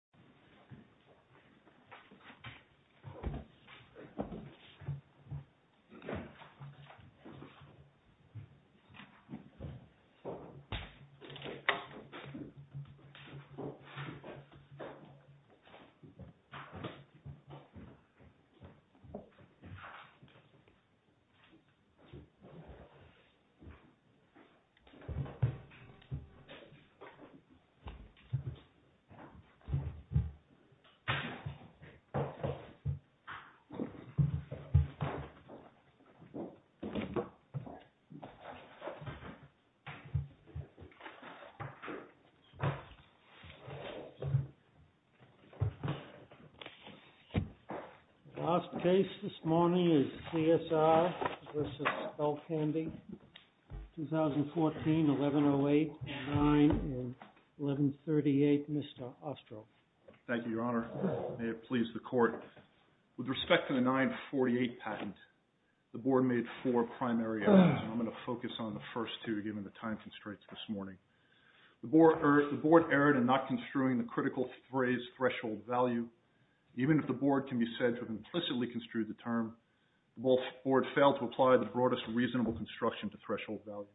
This is a video of the Skullcandy v. Skullcandy, Inc. The last case this morning is CSR v. Skullcandy, 2014, 1108-09 and 1138, Mr. Ostroff. Thank you, Your Honor. May it please the Court. With respect to the 948 patent, the Board made four primary errors. I'm going to focus on the first two given the time constraints this morning. The Board erred in not construing the critical phrase threshold value. Even if the Board can be said to have implicitly construed the term, the Board failed to apply the broadest reasonable construction to threshold value.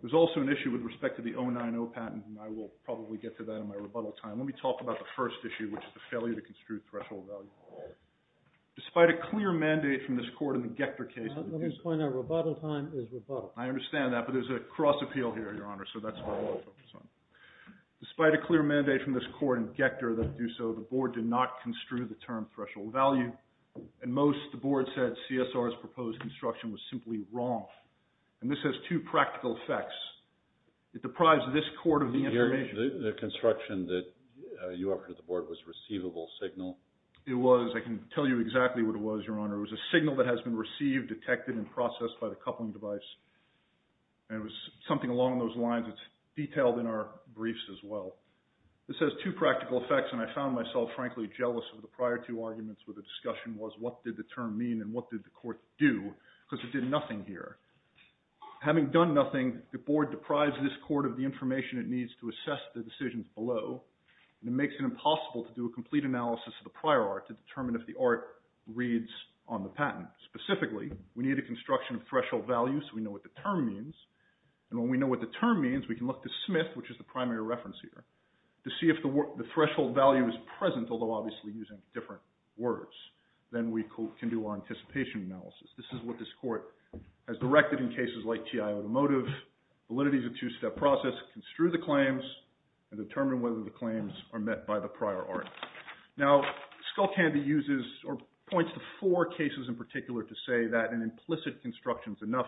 There's also an issue with respect to the 090 patent, and I will probably get to that in my rebuttal time. Let me talk about the first issue, which is the failure to construe threshold value. Despite a clear mandate from this Court in the Gector case... Let me just point out, rebuttal time is rebuttal. I understand that, but there's a cross appeal here, Your Honor, so that's what I want to focus on. Despite a clear mandate from this Court in Gector that do so, the Board did not construe the term threshold value. And most, the Board said, CSR's proposed construction was simply wrong. And this has two practical effects. It deprives this Court of the information... The construction that you offered to the Board was a receivable signal. It was. I can tell you exactly what it was, Your Honor. It was a signal that has been received, detected, and processed by the coupling device. And it was something along those lines that's detailed in our briefs as well. This has two practical effects, and I found myself, frankly, jealous of the prior two arguments where the discussion was what did the term mean and what did the Court do, because it did nothing here. Having done nothing, the Board deprives this Court of the information it needs to assess the decisions below. And it makes it impossible to do a complete analysis of the prior art to determine if the art reads on the patent. Specifically, we need a construction of threshold value so we know what the term means. And when we know what the term means, we can look to Smith, which is the primary reference here, to see if the threshold value is present, although obviously using different words. Then we can do our anticipation analysis. This is what this Court has directed in cases like T.I. Automotive. Validity is a two-step process. Construe the claims and determine whether the claims are met by the prior art. Now, Skullcandy uses or points to four cases in particular to say that an implicit construction is enough.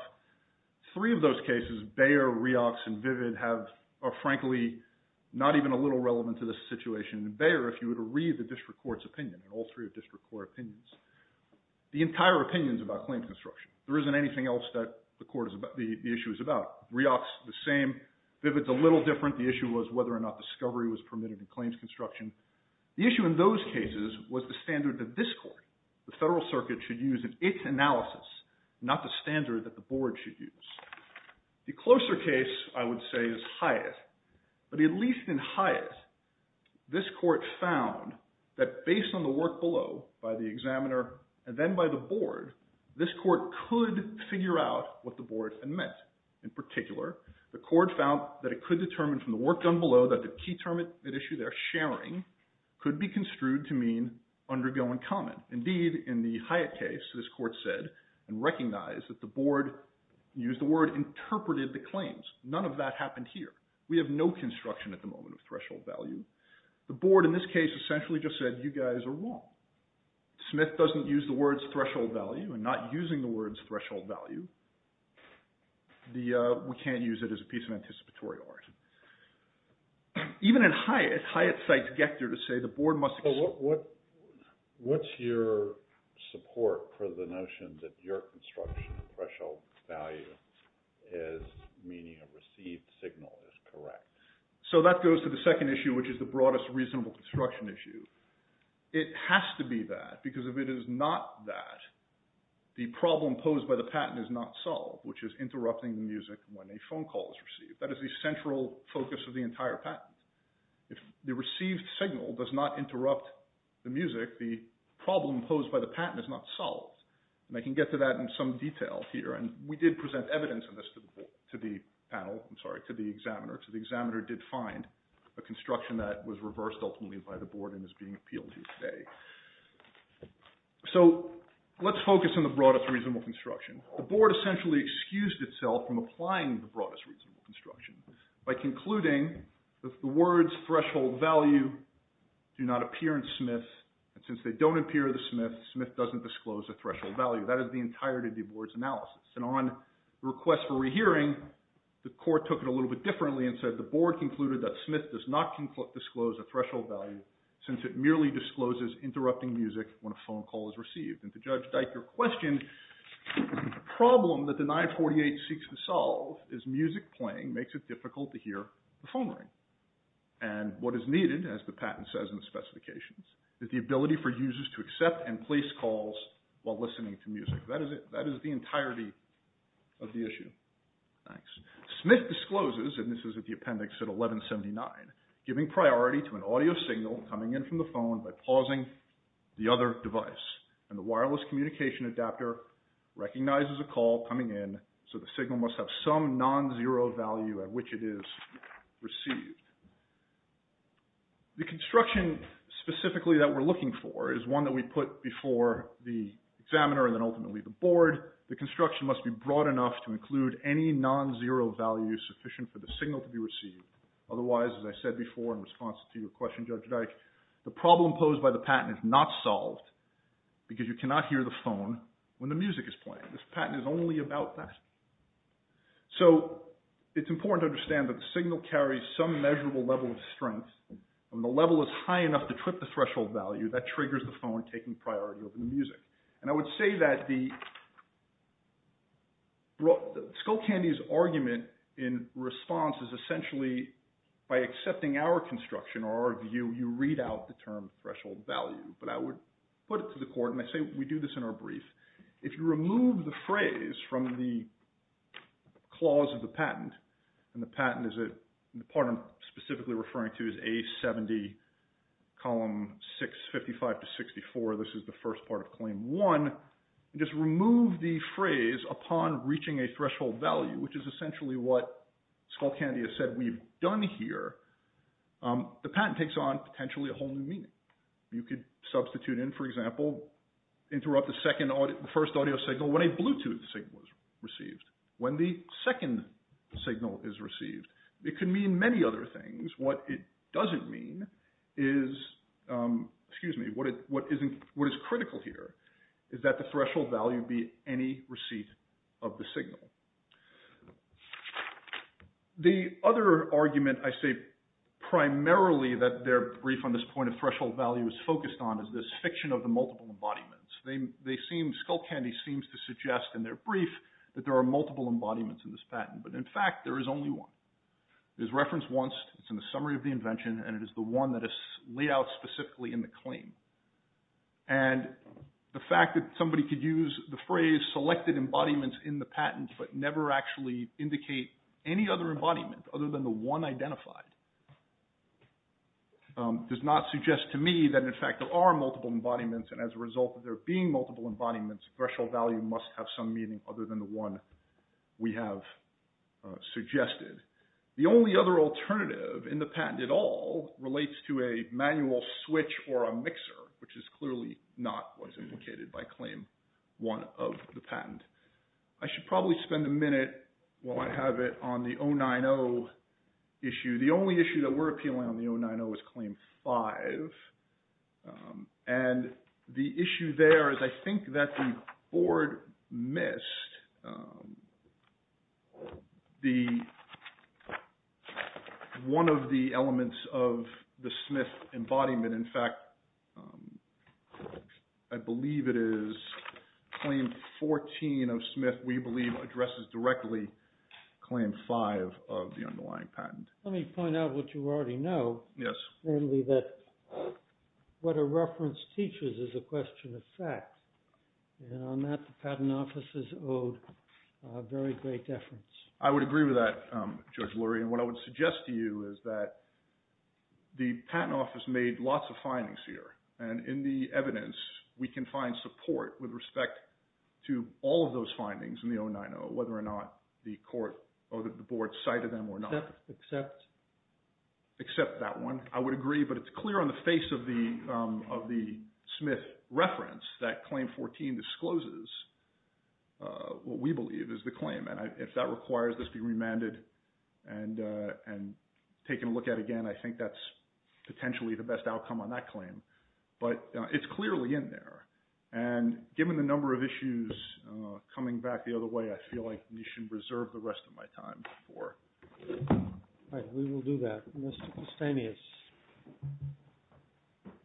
Three of those cases, Bayer, Riox, and Vivid, are frankly not even a little relevant to this situation. And Bayer, if you were to read the district court's opinion, and all three are district court opinions, the entire opinion is about claims construction. There isn't anything else that the issue is about. Riox, the same. Vivid's a little different. The issue was whether or not discovery was permitted in claims construction. The issue in those cases was the standard that this Court, the Federal Circuit, should use in its analysis, not the standard that the Board should use. The closer case, I would say, is Hyatt. But at least in Hyatt, this Court found that based on the work below by the examiner and then by the Board, this Court could figure out what the Board had meant. In particular, the Court found that it could determine from the work done below that the key term at issue, their sharing, could be construed to mean undergoing comment. Indeed, in the Hyatt case, this Court said and recognized that the Board, used the word, interpreted the claims. None of that happened here. We have no construction at the moment of threshold value. The Board, in this case, essentially just said, you guys are wrong. Smith doesn't use the words threshold value, and not using the words threshold value, we can't use it as a piece of anticipatory argument. Even in Hyatt, Hyatt cites Gector to say the Board must… What's your support for the notion that your construction threshold value is meaning a received signal is correct? So that goes to the second issue, which is the broadest reasonable construction issue. It has to be that, because if it is not that, the problem posed by the patent is not solved, which is interrupting the music when a phone call is received. That is the central focus of the entire patent. If the received signal does not interrupt the music, the problem posed by the patent is not solved. And I can get to that in some detail here. And we did present evidence of this to the panel, I'm sorry, to the examiner. So the examiner did find a construction that was reversed ultimately by the Board and is being appealed here today. So let's focus on the broadest reasonable construction. The Board essentially excused itself from applying the broadest reasonable construction by concluding that the words threshold value do not appear in Smith, and since they don't appear in Smith, Smith doesn't disclose the threshold value. That is the entirety of the Board's analysis. And on request for rehearing, the Court took it a little bit differently and said the Board concluded that Smith does not disclose the threshold value since it merely discloses interrupting music when a phone call is received. And to Judge Dyker's question, the problem that the 948 seeks to solve is music playing, makes it difficult to hear the phone ring. And what is needed, as the patent says in the specifications, is the ability for users to accept and place calls while listening to music. That is the entirety of the issue. Thanks. Smith discloses, and this is at the appendix at 1179, giving priority to an audio signal coming in from the phone by pausing the other device. And the wireless communication adapter recognizes a call coming in, so the signal must have some non-zero value at which it is received. The construction specifically that we're looking for is one that we put before the examiner and then ultimately the Board. The construction must be broad enough to include any non-zero value sufficient for the signal to be received. Otherwise, as I said before in response to your question, Judge Dyker, the problem posed by the patent is not solved because you cannot hear the phone when the music is playing. This patent is only about that. So it's important to understand that the signal carries some measurable level of strength. When the level is high enough to trip the threshold value, that triggers the phone taking priority over the music. And I would say that Skullcandy's argument in response is essentially, by accepting our construction or our view, you read out the term threshold value. But I would put it to the court, and I say we do this in our brief. If you remove the phrase from the clause of the patent, and the patent is a part I'm specifically referring to is A70, column 655 to 64. This is the first part of claim one. Just remove the phrase upon reaching a threshold value, which is essentially what Skullcandy has said we've done here. The patent takes on potentially a whole new meaning. You could substitute in, for example, interrupt the first audio signal when a Bluetooth signal is received. When the second signal is received, it could mean many other things. What it doesn't mean is, excuse me, what is critical here is that the threshold value be any receipt of the signal. The other argument I say primarily that their brief on this point of threshold value is focused on, is this fiction of the multiple embodiments. Skullcandy seems to suggest in their brief that there are multiple embodiments in this patent. But in fact, there is only one. It is referenced once. It's in the summary of the invention, and it is the one that is laid out specifically in the claim. And the fact that somebody could use the phrase selected embodiments in the patent, but never actually indicate any other embodiment other than the one identified, does not suggest to me that in fact there are multiple embodiments. And as a result of there being multiple embodiments, threshold value must have some meaning other than the one we have suggested. The only other alternative in the patent at all relates to a manual switch or a mixer, which is clearly not what is indicated by Claim 1 of the patent. I should probably spend a minute while I have it on the 090 issue. The only issue that we're appealing on the 090 is Claim 5. And the issue there is I think that the board missed one of the elements of the Smith embodiment. In fact, I believe it is Claim 14 of Smith, we believe, addresses directly Claim 5 of the underlying patent. Let me point out what you already know. Yes. Namely that what a reference teaches is a question of fact. And on that, the Patent Office is owed a very great deference. I would agree with that, Judge Lurie. And what I would suggest to you is that the Patent Office made lots of findings here. And in the evidence, we can find support with respect to all of those findings in the 090, whether or not the court or the board cited them or not. Except that one. I would agree, but it's clear on the face of the Smith reference that Claim 14 discloses what we believe is the claim. And if that requires this to be remanded and taken a look at again, I think that's potentially the best outcome on that claim. But it's clearly in there. And given the number of issues coming back the other way, I feel like we should reserve the rest of my time for… All right, we will do that. Mr. Castaneous,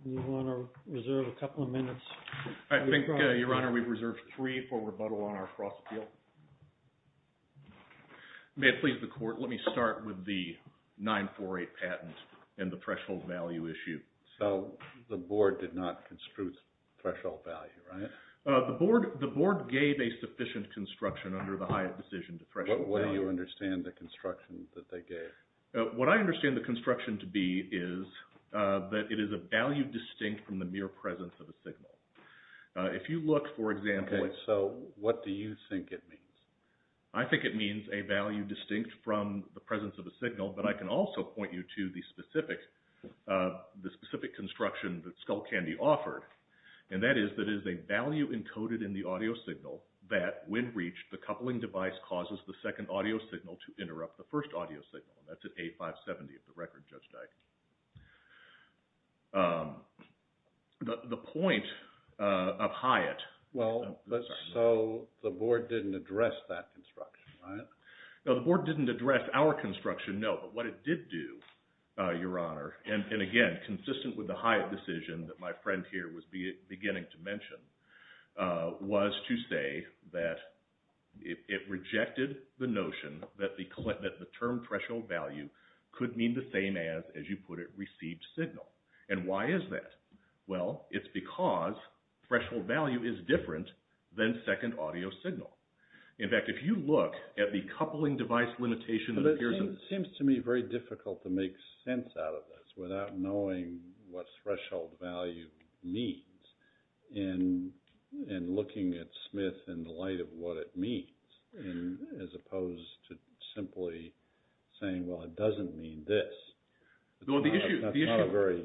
do you want to reserve a couple of minutes? I think, Your Honor, we've reserved three for rebuttal on our Frost appeal. May it please the Court, let me start with the 948 patent and the threshold value issue. So the board did not construe threshold value, right? The board gave a sufficient construction under the Hyatt decision to threshold value. What do you understand the construction that they gave? What I understand the construction to be is that it is a value distinct from the mere presence of a signal. If you look, for example… Okay, so what do you think it means? I think it means a value distinct from the presence of a signal, but I can also point you to the specific construction that Skullcandy offered, and that is that it is a value encoded in the audio signal that, when reached, the coupling device causes the second audio signal to interrupt the first audio signal, and that's at A570 of the record, Judge Dike. The point of Hyatt… Well, so the board didn't address that construction, right? No, the board didn't address our construction, no, but what it did do, Your Honor, and again, consistent with the Hyatt decision that my friend here was beginning to mention, was to say that it rejected the notion that the term threshold value could mean the same as, as you put it, received signal. And why is that? Well, it's because threshold value is different than second audio signal. In fact, if you look at the coupling device limitation… But it seems to me very difficult to make sense out of this without knowing what threshold value means. And looking at Smith in the light of what it means, as opposed to simply saying, well, it doesn't mean this. That's not a very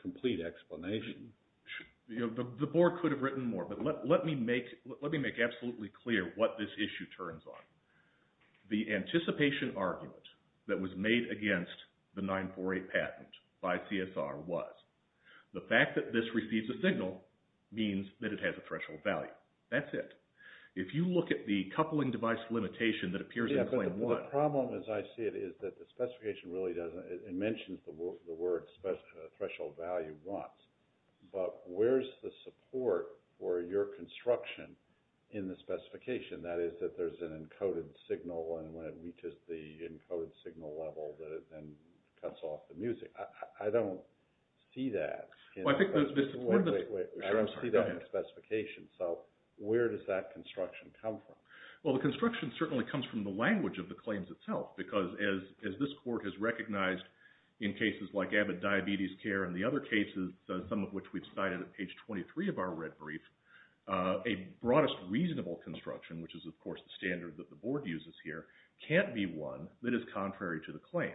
complete explanation. The board could have written more, but let me make absolutely clear what this issue turns on. The anticipation argument that was made against the 948 patent by CSR was, the fact that this receives a signal means that it has a threshold value. That's it. If you look at the coupling device limitation that appears in Claim 1… Yeah, but the problem, as I see it, is that the specification really doesn't, it mentions the word threshold value once, but where's the support for your construction in the specification? That is, that there's an encoded signal, and when it reaches the encoded signal level, that it then cuts off the music. I don't see that. I don't see that in the specification, so where does that construction come from? Well, the construction certainly comes from the language of the claims itself, because as this court has recognized in cases like Abbott Diabetes Care and the other cases, some of which we've cited at page 23 of our red brief, a broadest reasonable construction, which is, of course, the standard that the board uses here, can't be one that is contrary to the claims.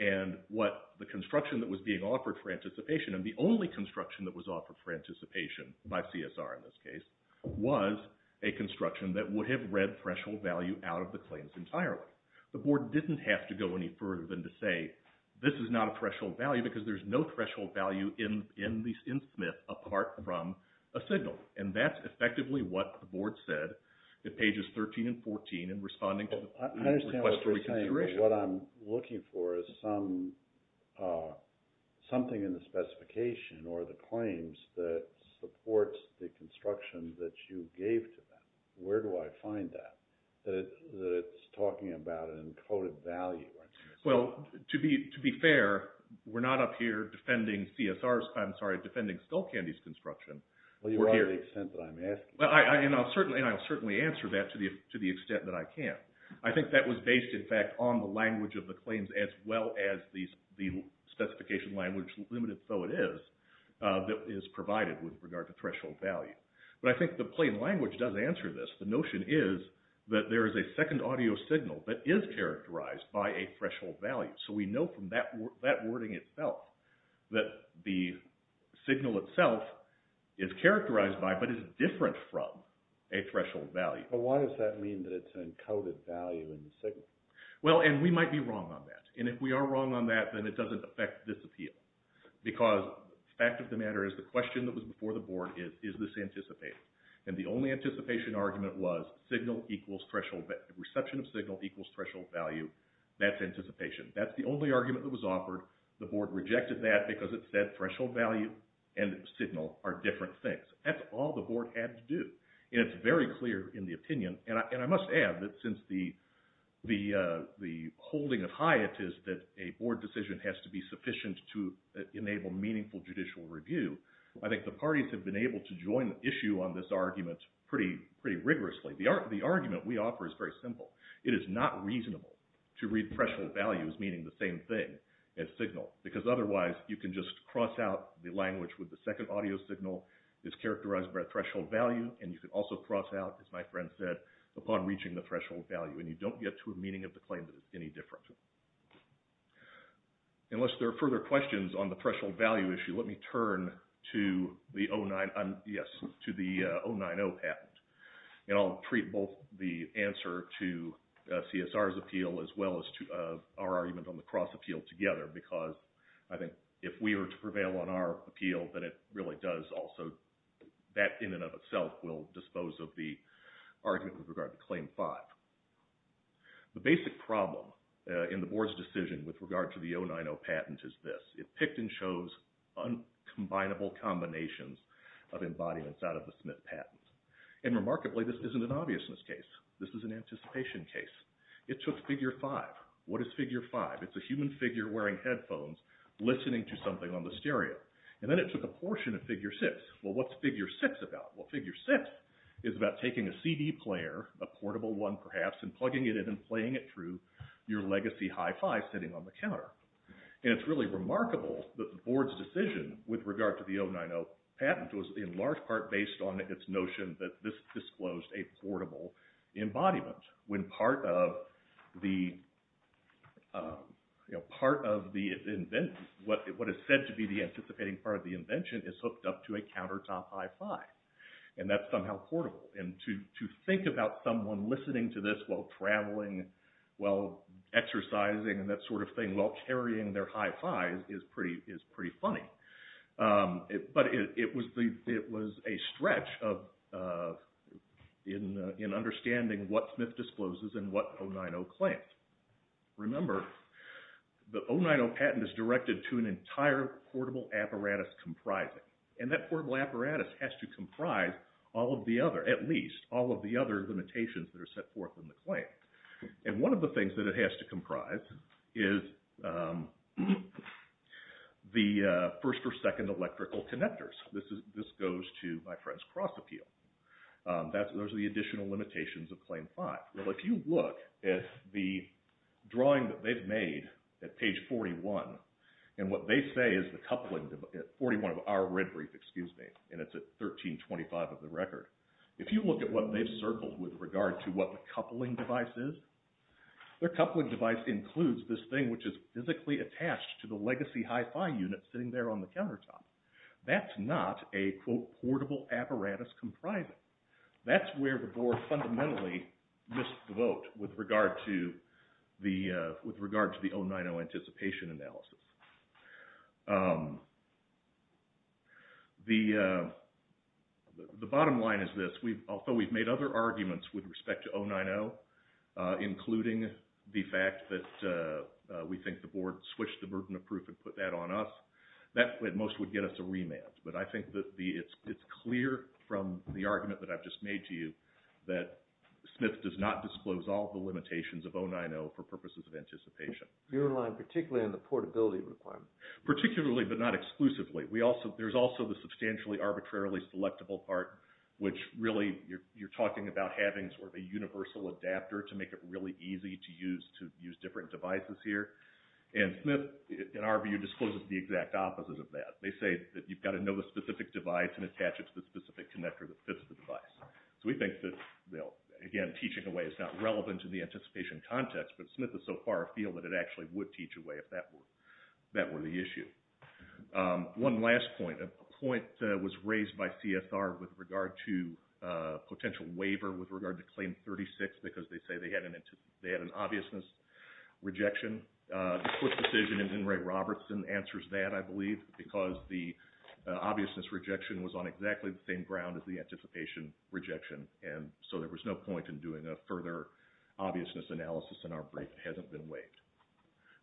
And what the construction that was being offered for anticipation, and the only construction that was offered for anticipation by CSR in this case, was a construction that would have read threshold value out of the claims entirely. The board didn't have to go any further than to say, this is not a threshold value, because there's no threshold value in SMIP apart from a signal, and that's effectively what the board said at pages 13 and 14 in responding to the request for reconsideration. What I'm looking for is something in the specification or the claims that supports the construction that you gave to them. Where do I find that, that it's talking about an encoded value? Well, to be fair, we're not up here defending CSR's, I'm sorry, defending Skullcandy's construction. Well, you are to the extent that I'm asking. And I'll certainly answer that to the extent that I can. I think that was based, in fact, on the language of the claims as well as the specification language, limited though it is, that is provided with regard to threshold value. But I think the plain language does answer this. The notion is that there is a second audio signal that is characterized by a threshold value. So we know from that wording itself that the signal itself is characterized by, but is different from, a threshold value. But why does that mean that it's an encoded value in the signal? Well, and we might be wrong on that. And if we are wrong on that, then it doesn't affect this appeal. Because the fact of the matter is the question that was before the board is, is this anticipated? And the only anticipation argument was signal equals threshold, reception of signal equals threshold value. That's anticipation. That's the only argument that was offered. The board rejected that because it said threshold value and signal are different things. That's all the board had to do. And it's very clear in the opinion. And I must add that since the holding of Hyatt is that a board decision has to be sufficient to enable meaningful judicial review, I think the parties have been able to join the issue on this argument pretty rigorously. The argument we offer is very simple. It is not reasonable to read threshold values meaning the same thing as signal because otherwise you can just cross out the language with the second audio signal is characterized by a threshold value and you can also cross out, as my friend said, upon reaching the threshold value. And you don't get to a meaning of the claim that is any different. Unless there are further questions on the threshold value issue, let me turn to the 090 patent. And I'll treat both the answer to CSR's appeal as well as our argument on the cross appeal together. Because I think if we were to prevail on our appeal, then it really does also that in and of itself will dispose of the argument with regard to Claim 5. The basic problem in the board's decision with regard to the 090 patent is this. It picked and chose uncombinable combinations of embodiments out of the Smith patent. And remarkably, this isn't an obviousness case. This is an anticipation case. It took Figure 5. What is Figure 5? It's a human figure wearing headphones listening to something on the stereo. And then it took a portion of Figure 6. Well, what's Figure 6 about? Well, Figure 6 is about taking a CD player, a portable one perhaps, and plugging it in and playing it through your legacy hi-fi sitting on the counter. And it's really remarkable that the board's decision with regard to the 090 patent was in large part based on its notion that this disclosed a portable embodiment. when part of what is said to be the anticipating part of the invention is hooked up to a countertop hi-fi. And that's somehow portable. And to think about someone listening to this while traveling, while exercising, and that sort of thing, while carrying their hi-fis is pretty funny. But it was a stretch in understanding what Smith discloses and what 090 claims. Remember, the 090 patent is directed to an entire portable apparatus comprising. And that portable apparatus has to comprise all of the other, at least, all of the other limitations that are set forth in the claim. And one of the things that it has to comprise is the first or second electrical connectors. This goes to my friend's cross-appeal. Those are the additional limitations of Claim 5. Well, if you look at the drawing that they've made at page 41, and what they say is the coupling, 41 of our red brief, excuse me, and it's at 1325 of the record. If you look at what they've circled with regard to what the coupling device is, their coupling device includes this thing, which is physically attached to the legacy hi-fi unit sitting there on the countertop. That's not a, quote, portable apparatus comprising. That's where the board fundamentally missed the vote with regard to the 090 anticipation analysis. The bottom line is this. Although we've made other arguments with respect to 090, including the fact that we think the board switched the burden of proof and put that on us, that at most would get us a remand. But I think that it's clear from the argument that I've just made to you that Smith does not disclose all the limitations of 090 for purposes of anticipation. You're in line particularly on the portability requirement. Particularly, but not exclusively. There's also the substantially arbitrarily selectable part, which really you're talking about having sort of a universal adapter to make it really easy to use different devices here. And Smith, in our view, discloses the exact opposite of that. They say that you've got to know the specific device and attach it to the specific connector that fits the device. So we think that, again, teaching away is not relevant to the anticipation context, but Smith is so far afield that it actually would teach away if that were the issue. One last point. A point that was raised by CSR with regard to a potential waiver with regard to Claim 36 because they say they had an obviousness rejection. The swift decision in Enright-Robertson answers that, I believe, because the obviousness rejection was on exactly the same ground as the anticipation rejection. And so there was no point in doing a further obviousness analysis in our brief. It hasn't been waived.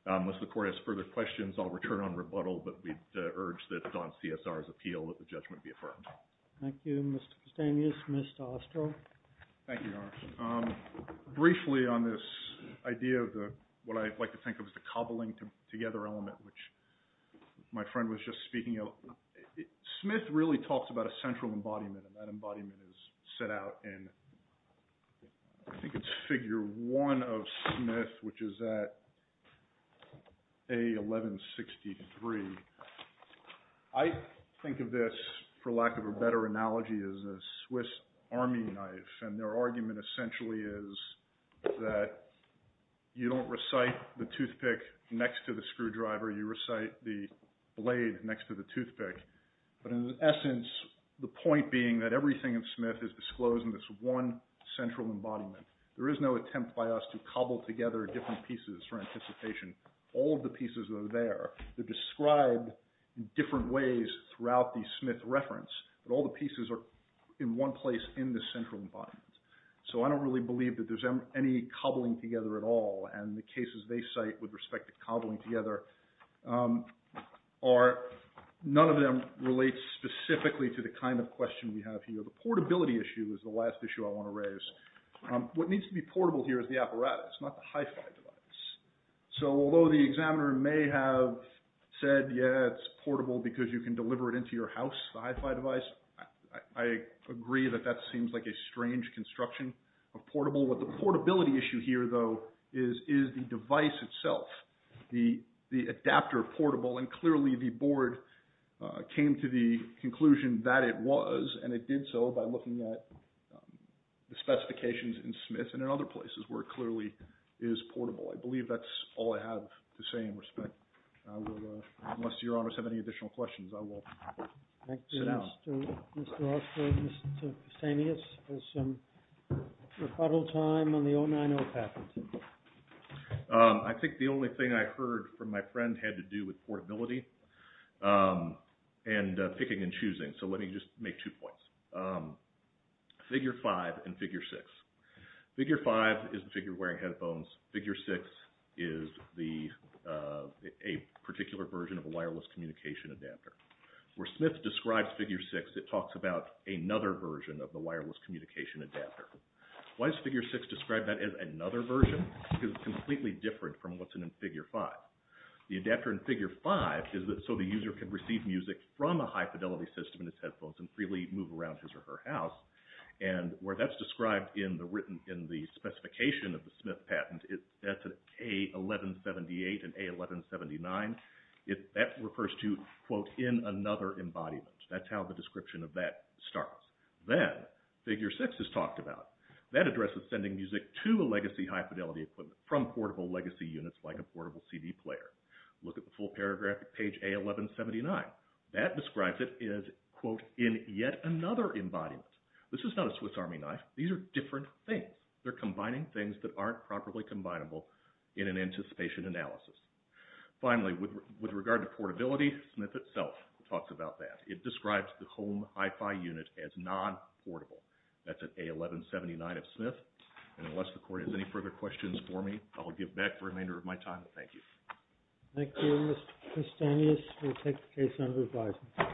Unless the Court has further questions, I'll return on rebuttal, but we'd urge that on CSR's appeal that the judgment be affirmed. Thank you, Mr. Custanius. Mr. Osterl? Thank you, Your Honor. Briefly on this idea of what I like to think of as the cobbling together element, which my friend was just speaking of, Smith really talks about a central embodiment, and that embodiment is set out in, I think it's Figure 1 of Smith, which is at A1163. I think of this, for lack of a better analogy, as a Swiss army knife, and their argument essentially is that you don't recite the toothpick next to the screwdriver. You recite the blade next to the toothpick. But in essence, the point being that everything in Smith is disclosed in this one central embodiment. There is no attempt by us to cobble together different pieces for anticipation. All of the pieces are there. They're described in different ways throughout the Smith reference, but all the pieces are in one place in the central embodiment. So I don't really believe that there's any cobbling together at all, and the cases they cite with respect to cobbling together are, none of them relate specifically to the kind of question we have here. The portability issue is the last issue I want to raise. What needs to be portable here is the apparatus, not the hi-fi device. So although the examiner may have said, yeah, it's portable because you can deliver it into your house, the hi-fi device, I agree that that seems like a strange construction of portable. What the portability issue here, though, is the device itself, the adapter portable, and clearly the board came to the conclusion that it was, and it did so by looking at the specifications in Smith and in other places where it clearly is portable. I believe that's all I have to say in respect. Unless your honors have any additional questions, I will sit down. Thank you, Mr. Oster. Mr. Oster, Mr. Samias, for some rebuttal time on the 090 patent. I think the only thing I heard from my friend had to do with portability and picking and choosing, so let me just make two points. Figure 5 and figure 6. Figure 5 is the figure wearing headphones. Figure 6 is a particular version of a wireless communication adapter. Where Smith describes figure 6, it talks about another version of the wireless communication adapter. Why does figure 6 describe that as another version? Because it's completely different from what's in figure 5. The adapter in figure 5 is so the user can receive music from a high-fidelity system in his headphones and freely move around his or her house, and where that's described in the specification of the Smith patent, that's an A1178 and A1179, that refers to, quote, in another embodiment. That's how the description of that starts. Then figure 6 is talked about. That addresses sending music to a legacy high-fidelity equipment from portable legacy units like a portable CD player. Look at the full paragraph at page A1179. That describes it as, quote, in yet another embodiment. This is not a Swiss Army knife. These are different things. They're combining things that aren't properly combinable in an anticipation analysis. Finally, with regard to portability, Smith itself talks about that. It describes the home hi-fi unit as non-portable. That's an A1179 of Smith. And unless the court has any further questions for me, I will give back the remainder of my time. Thank you. Thank you. Mr. Castanhas will take the case under advisement.